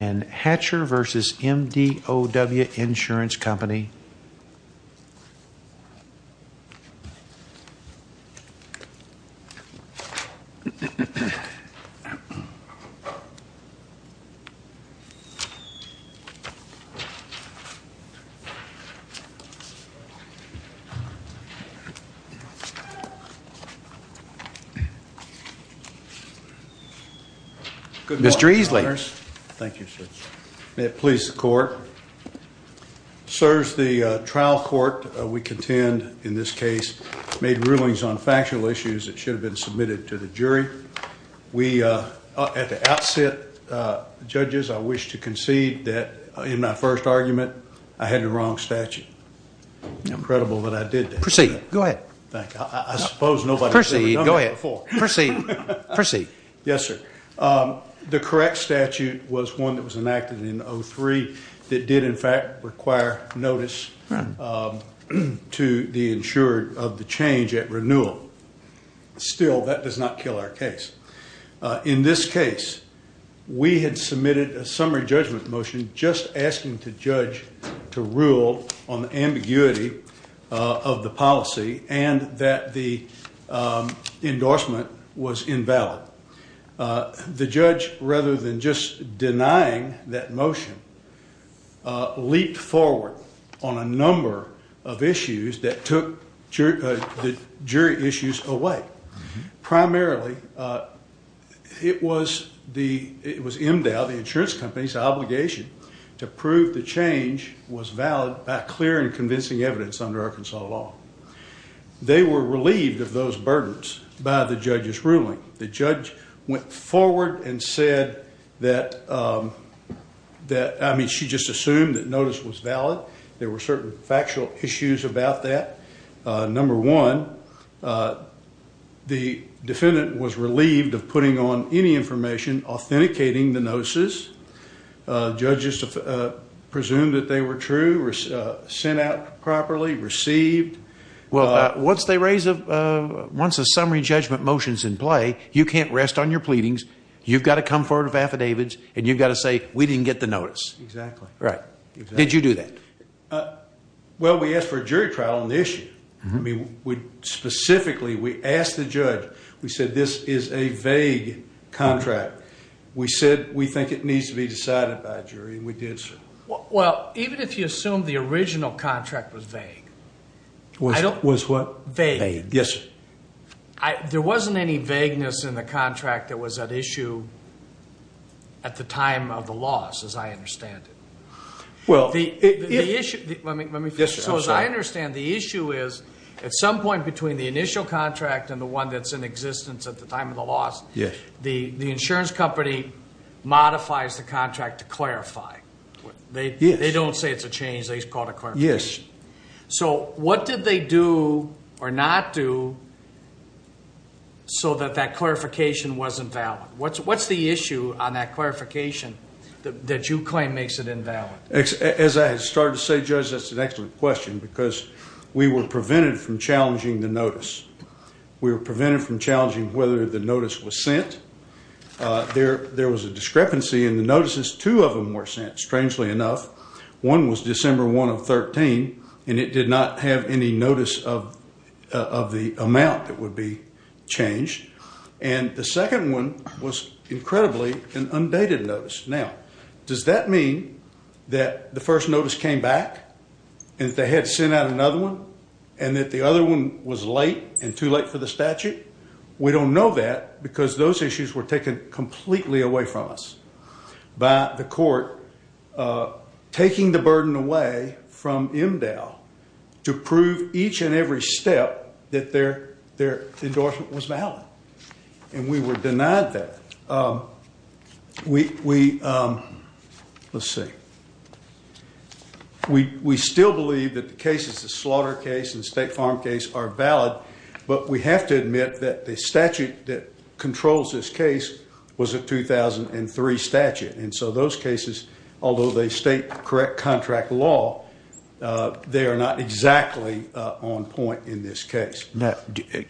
Hatcher v. MDOW Insurance Company. Mr. Easley. May it please the court. Sirs, the trial court we contend in this case made rulings on factual issues that should have been submitted to the jury. At the outset, judges, I wish to concede that in my first argument I had the wrong statute. It's incredible that I did that. Proceed. Go ahead. I suppose nobody's ever done that before. Proceed. Go ahead. Proceed. Proceed. Yes, sir. The correct statute was one that was enacted in 03 that did in fact require notice to the insurer of the change at renewal. Still, that does not kill our case. In this case, we had submitted a summary judgment motion just asking the judge to rule on the ambiguity of the policy and that the endorsement was invalid. The judge, rather than just denying that motion, leaped forward on a number of issues that took the jury issues away. Primarily, it was MDOW, the insurance company's obligation to prove the change was valid by clear and convincing evidence under Arkansas law. They were relieved of those burdens by the judge's ruling. The judge went forward and said that, I mean, she just assumed that notice was valid. There were certain factual issues about that. Number one, the defendant was relieved of putting on any information authenticating the notices. Judges presumed that they were true, sent out properly, received. Well, once a summary judgment motion's in play, you can't rest on your pleadings. You've got to come forward with affidavits, and you've got to say, we didn't get the notice. Exactly. Right. Did you do that? Well, we asked for a jury trial on the issue. Specifically, we asked the judge, we said, this is a vague contract. We said we think it needs to be decided by a jury, and we did, sir. Well, even if you assume the original contract was vague. Was what? Vague. Yes, sir. There wasn't any vagueness in the contract that was at issue at the time of the loss, as I understand it. Let me finish. Yes, sir. As I understand, the issue is at some point between the initial contract and the one that's in existence at the time of the loss. Yes. The insurance company modifies the contract to clarify. Yes. They don't say it's a change. They just call it a clarification. Yes. So what did they do or not do so that that clarification wasn't valid? What's the issue on that clarification that you claim makes it invalid? As I started to say, Judge, that's an excellent question because we were prevented from challenging the notice. We were prevented from challenging whether the notice was sent. There was a discrepancy in the notices. Two of them were sent, strangely enough. One was December 1 of 13, and it did not have any notice of the amount that would be changed. And the second one was incredibly an undated notice. Now, does that mean that the first notice came back and that they had sent out another one and that the other one was late and too late for the statute? We don't know that because those issues were taken completely away from us by the court taking the burden away from MDAL to prove each and every step that their endorsement was valid. And we were denied that. We still believe that the cases, the slaughter case and the state farm case, are valid. But we have to admit that the statute that controls this case was a 2003 statute. And so those cases, although they state correct contract law, they are not exactly on point in this case.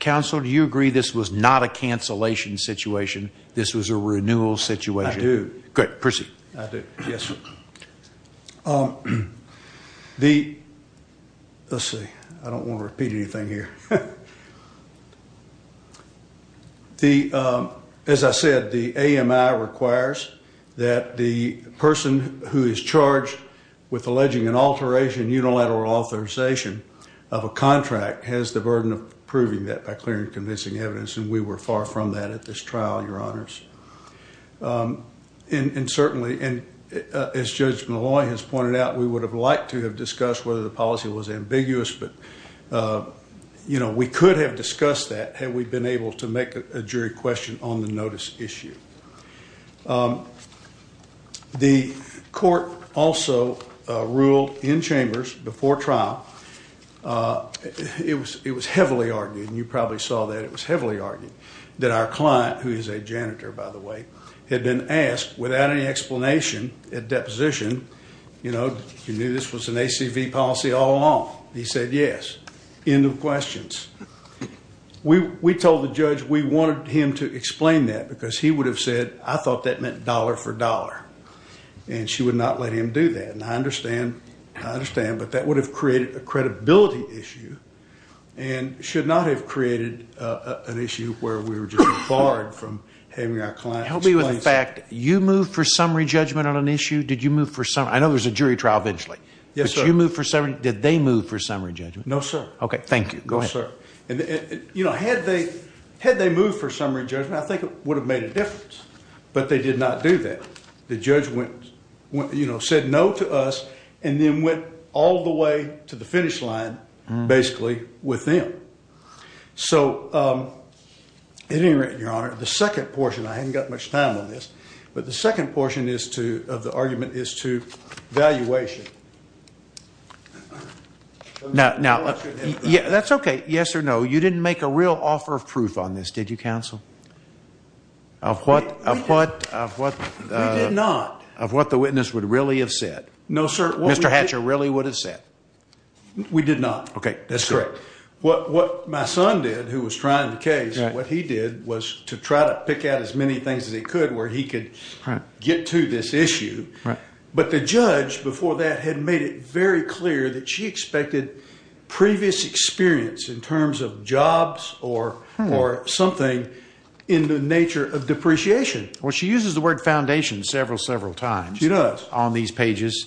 Counsel, do you agree this was not a cancellation situation? This was a renewal situation? I do. Good. Proceed. I do. Yes, sir. Let's see. I don't want to repeat anything here. As I said, the AMI requires that the person who is charged with alleging an alteration unilateral authorization of a contract has the burden of proving that by clear and convincing evidence. And we were far from that at this trial, Your Honors. And certainly, as Judge Malloy has pointed out, we would have liked to have discussed whether the policy was ambiguous. But, you know, we could have discussed that had we been able to make a jury question on the notice issue. The court also ruled in chambers before trial. It was heavily argued. And you probably saw that. It was heavily argued that our client, who is a janitor, by the way, had been asked without any explanation at deposition, you know, you knew this was an ACV policy all along. He said yes. End of questions. We told the judge we wanted him to explain that because he would have said I thought that meant dollar for dollar. And she would not let him do that. And I understand. I understand. But that would have created a credibility issue and should not have created an issue where we were just barred from having our client explain. Help me with a fact. You moved for summary judgment on an issue? Did you move for summary? I know there's a jury trial eventually. Yes, sir. Did you move for summary? Did they move for summary judgment? No, sir. Okay. Thank you. Go ahead. No, sir. You know, had they moved for summary judgment, I think it would have made a difference. But they did not do that. The judge went, you know, said no to us and then went all the way to the finish line basically with them. So, at any rate, Your Honor, the second portion, I haven't got much time on this, but the second portion of the argument is to valuation. Now, that's okay, yes or no. You didn't make a real offer of proof on this, did you, counsel? Of what? We did not. Of what the witness would really have said? No, sir. Mr. Hatcher really would have said? We did not. Okay. That's correct. What my son did who was trying the case, what he did was to try to pick out as many things as he could where he could get to this issue. But the judge before that had made it very clear that she expected previous experience in terms of jobs or something in the nature of depreciation. Well, she uses the word foundation several, several times. She does. On these pages.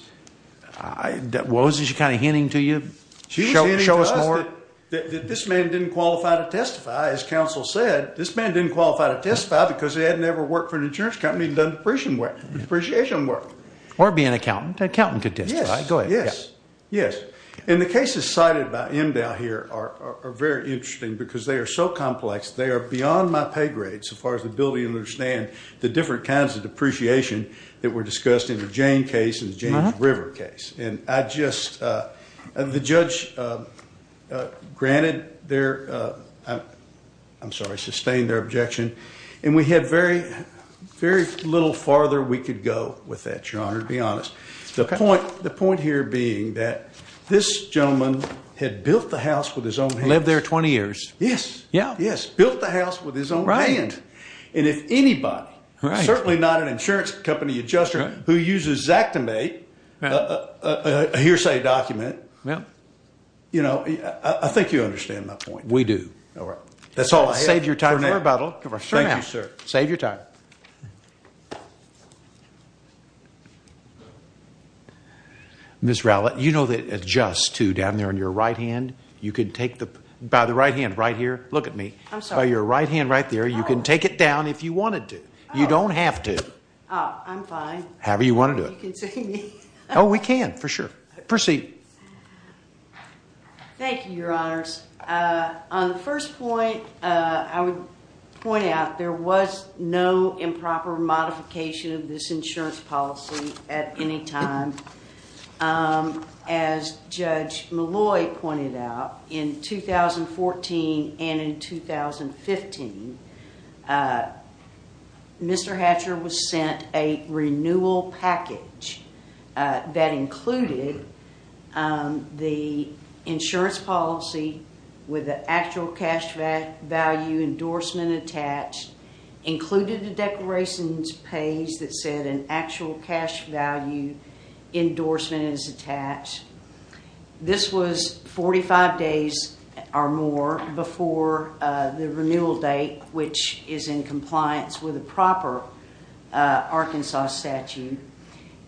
What was she kind of hinting to you? Show us more. She was hinting to us that this man didn't qualify to testify. As counsel said, this man didn't qualify to testify because he hadn't ever worked for an insurance company and done depreciation work. Or be an accountant. An accountant could testify. Yes. Go ahead. Yes. Yes. And the cases cited by Emdow here are very interesting because they are so complex. They are beyond my pay grade so far as the ability to understand the different kinds of depreciation that were discussed in the Jane case and the James River case. And I just, the judge granted their, I'm sorry, sustained their objection. And we had very, very little farther we could go with that, Your Honor, to be honest. Okay. The point here being that this gentleman had built the house with his own hands. Lived there 20 years. Yes. Yeah. Yes. Built the house with his own hands. Right. And if anybody, certainly not an insurance company adjuster who uses Zach to make a hearsay document, you know, I think you understand my point. We do. All right. That's all I have for now. Save your time for rebuttal. Thank you, sir. Save your time. Ms. Rowlett, you know that adjust, too, down there on your right hand, you can take the, by the right hand right here, look at me. I'm sorry. By your right hand right there, you can take it down if you wanted to. You don't have to. I'm fine. However you want to do it. You can see me. Oh, we can, for sure. Proceed. Thank you, Your Honors. On the first point, I would point out there was no improper modification of this insurance policy at any time. As Judge Malloy pointed out, in 2014 and in 2015, Mr. Hatcher was sent a renewal package that included the insurance policy with the actual cash value endorsement attached, included a declarations page that said an actual cash value endorsement is attached. This was 45 days or more before the renewal date, which is in compliance with a proper Arkansas statute.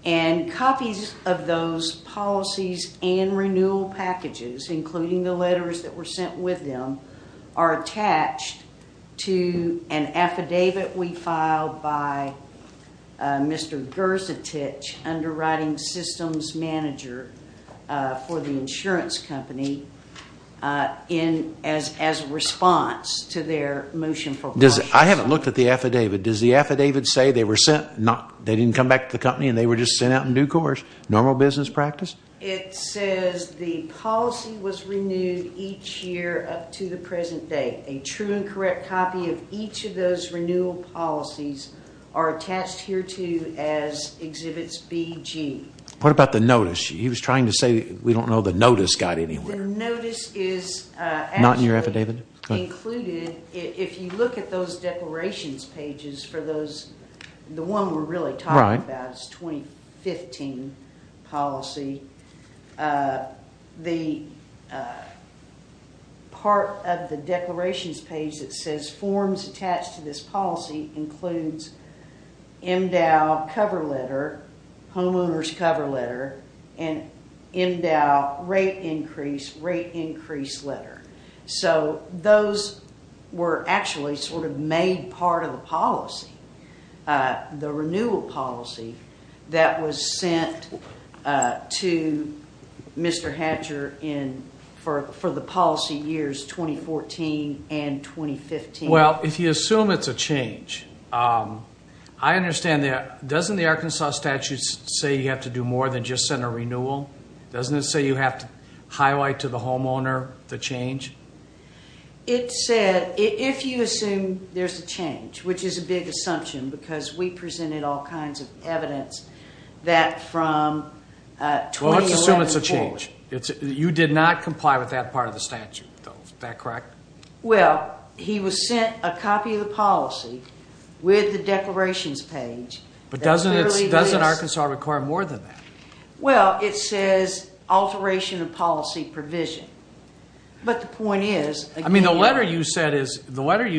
And copies of those policies and renewal packages, including the letters that were sent with them, are attached to an affidavit we filed by Mr. Gerzetich, underwriting systems manager for the insurance company, as a response to their motion for caution. I haven't looked at the affidavit. Does the affidavit say they didn't come back to the company and they were just sent out in due course? Normal business practice? It says the policy was renewed each year up to the present date. A true and correct copy of each of those renewal policies are attached hereto as exhibits BG. What about the notice? He was trying to say we don't know the notice got anywhere. The notice is actually included. If you look at those declarations pages for those, the one we're really talking about is 2015 policy. The part of the declarations page that says forms attached to this policy includes MDOW cover letter, homeowners cover letter, and MDOW rate increase, rate increase letter. Those were actually sort of made part of the policy, the renewal policy that was sent to Mr. Hatcher for the policy years 2014 and 2015. Well, if you assume it's a change, I understand that. Doesn't the Arkansas statute say you have to do more than just send a renewal? Doesn't it say you have to highlight to the homeowner the change? It said if you assume there's a change, which is a big assumption because we presented all kinds of evidence that from 2011 forward. Well, let's assume it's a change. You did not comply with that part of the statute, though. Is that correct? Well, he was sent a copy of the policy with the declarations page. But doesn't Arkansas require more than that? Well, it says alteration of policy provision. But the point is, again- I mean, the letter you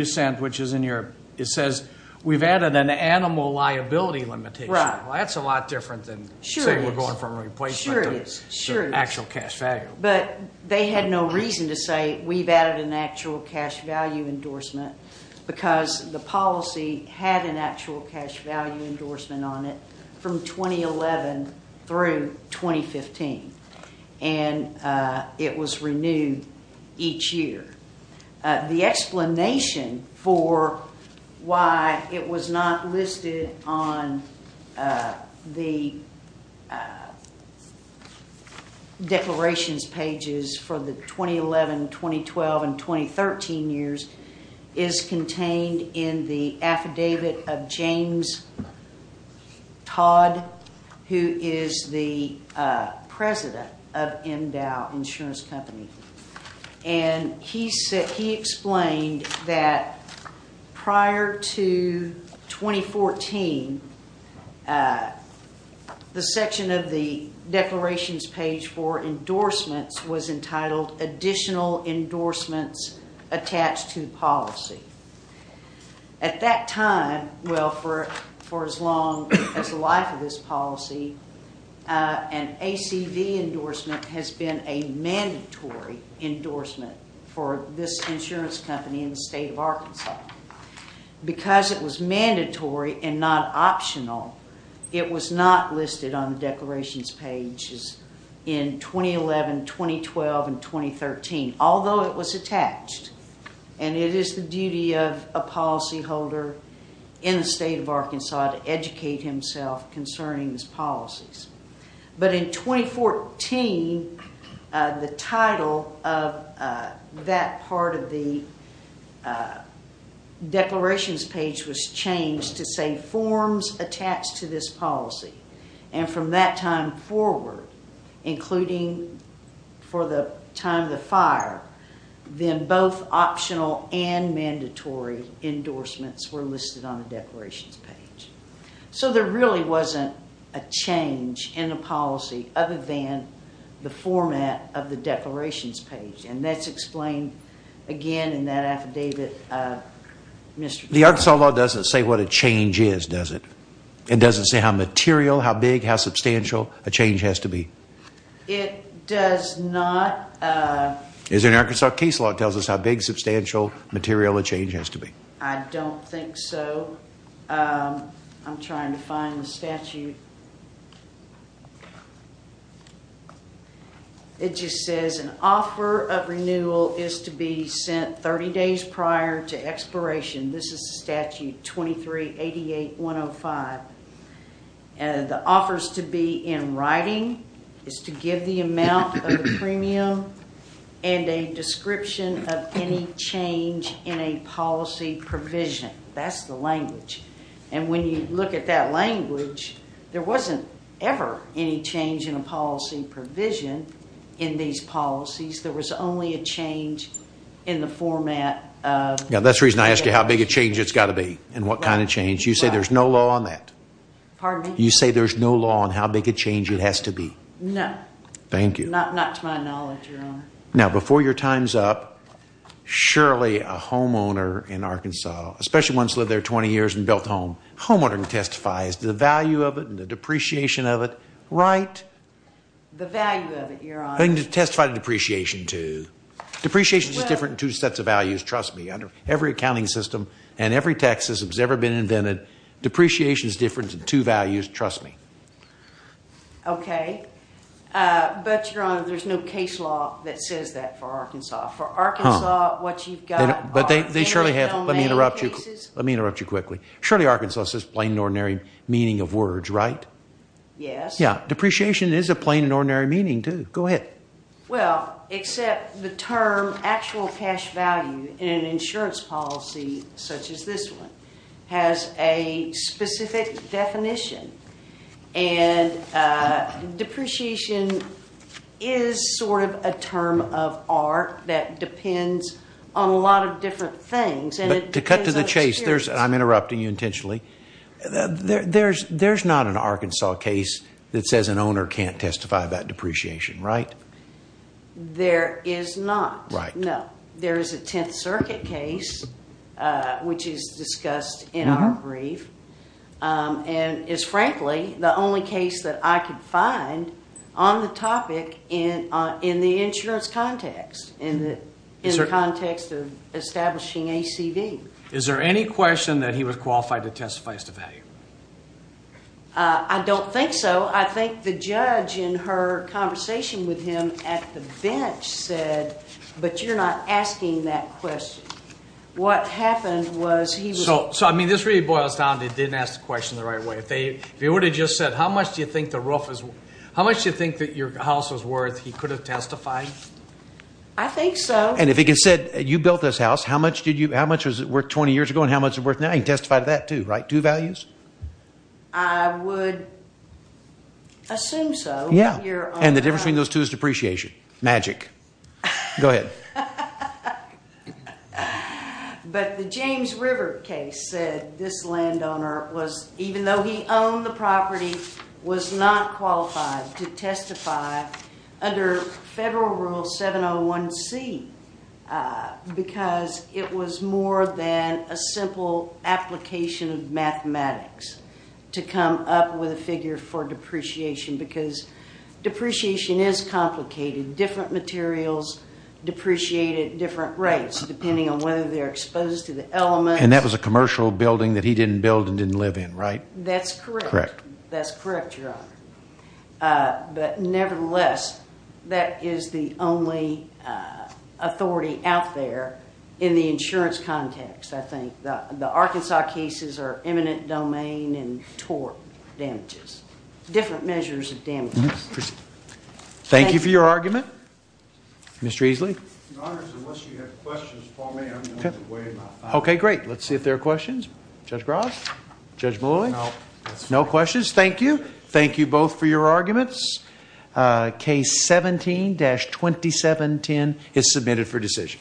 sent, which is in your, it says we've added an animal liability limitation. Well, that's a lot different than saying we're going from a replacement to actual cash value. But they had no reason to say we've added an actual cash value endorsement because the policy had an actual cash value endorsement on it from 2011 through 2015. And it was renewed each year. The explanation for why it was not listed on the declarations pages for the 2011, 2012, and 2013 years is contained in the affidavit of James Todd, who is the president of MDOW Insurance Company. And he explained that prior to 2014, the section of the declarations page for endorsements was entitled Additional Endorsements Attached to Policy. At that time, well, for as long as the life of this policy, an ACV endorsement has been a mandatory endorsement for this insurance company in the state of Arkansas. Because it was mandatory and not optional, it was not listed on the declarations pages in 2011, 2012, and 2013, although it was attached. And it is the duty of a policyholder in the state of Arkansas to educate himself concerning these policies. But in 2014, the title of that part of the declarations page was changed to say Forms Attached to this Policy. And from that time forward, including for the time of the fire, then both optional and mandatory endorsements were listed on the declarations page. So there really wasn't a change in the policy other than the format of the declarations page. And that's explained again in that affidavit. The Arkansas law doesn't say what a change is, does it? It doesn't say how material, how big, how substantial a change has to be? It does not. Is there an Arkansas case law that tells us how big, substantial, material a change has to be? I don't think so. I'm trying to find the statute. It just says an offer of renewal is to be sent 30 days prior to expiration. This is Statute 2388-105. The offer is to be in writing, is to give the amount of the premium, and a description of any change in a policy provision. That's the language. And when you look at that language, there wasn't ever any change in a policy provision in these policies. There was only a change in the format of the declarations. Now, that's the reason I ask you how big a change it's got to be and what kind of change. You say there's no law on that? Pardon me? You say there's no law on how big a change it has to be? No. Thank you. Not to my knowledge, Your Honor. Now, before your time's up, surely a homeowner in Arkansas, especially one who's lived there 20 years and built a home, a homeowner can testify as to the value of it and the depreciation of it, right? The value of it, Your Honor. They can testify to depreciation, too. Depreciation is different in two sets of values, trust me. Under every accounting system and every tax system that's ever been invented, depreciation is different in two values, trust me. Okay. But, Your Honor, there's no case law that says that for Arkansas. For Arkansas, what you've got are every domain cases. But they surely have. Let me interrupt you. Let me interrupt you quickly. Surely Arkansas says plain and ordinary meaning of words, right? Yes. Yeah. Depreciation is a plain and ordinary meaning, too. Go ahead. Well, except the term actual cash value in an insurance policy such as this one has a specific definition. And depreciation is sort of a term of art that depends on a lot of different things. But to cut to the chase, I'm interrupting you intentionally. There's not an Arkansas case that says an owner can't testify about depreciation, right? There is not. Right. No. There is a Tenth Circuit case which is discussed in our brief and is, frankly, the only case that I could find on the topic in the insurance context, in the context of establishing ACV. Is there any question that he was qualified to testify as to value? I don't think so. I think the judge in her conversation with him at the bench said, but you're not asking that question. What happened was he was – So, I mean, this really boils down to they didn't ask the question the right way. If they would have just said, how much do you think the roof is – how much do you think that your house is worth, he could have testified? I think so. And if he had said, you built this house, how much was it worth 20 years ago and how much is it worth now, he'd testify to that too, right? Two values? I would assume so. Yeah. And the difference between those two is depreciation. Magic. Go ahead. But the James River case said this landowner was, even though he owned the property, was not qualified to testify under Federal Rule 701C because it was more than a simple application of mathematics to come up with a figure for depreciation because depreciation is complicated. Different materials depreciate at different rates depending on whether they're exposed to the elements. And that was a commercial building that he didn't build and didn't live in, right? That's correct. Correct. That's correct, Your Honor. But nevertheless, that is the only authority out there in the insurance context, I think. The Arkansas cases are eminent domain and tort damages. Different measures of damages. Thank you for your argument. Mr. Eesley. Your Honor, unless you have questions for me, I'm going to weigh my thoughts. Okay, great. Let's see if there are questions. Judge Ross? Judge Malouf? No. No questions. Thank you. Thank you both for your arguments. Case 17-2710 is submitted for decision.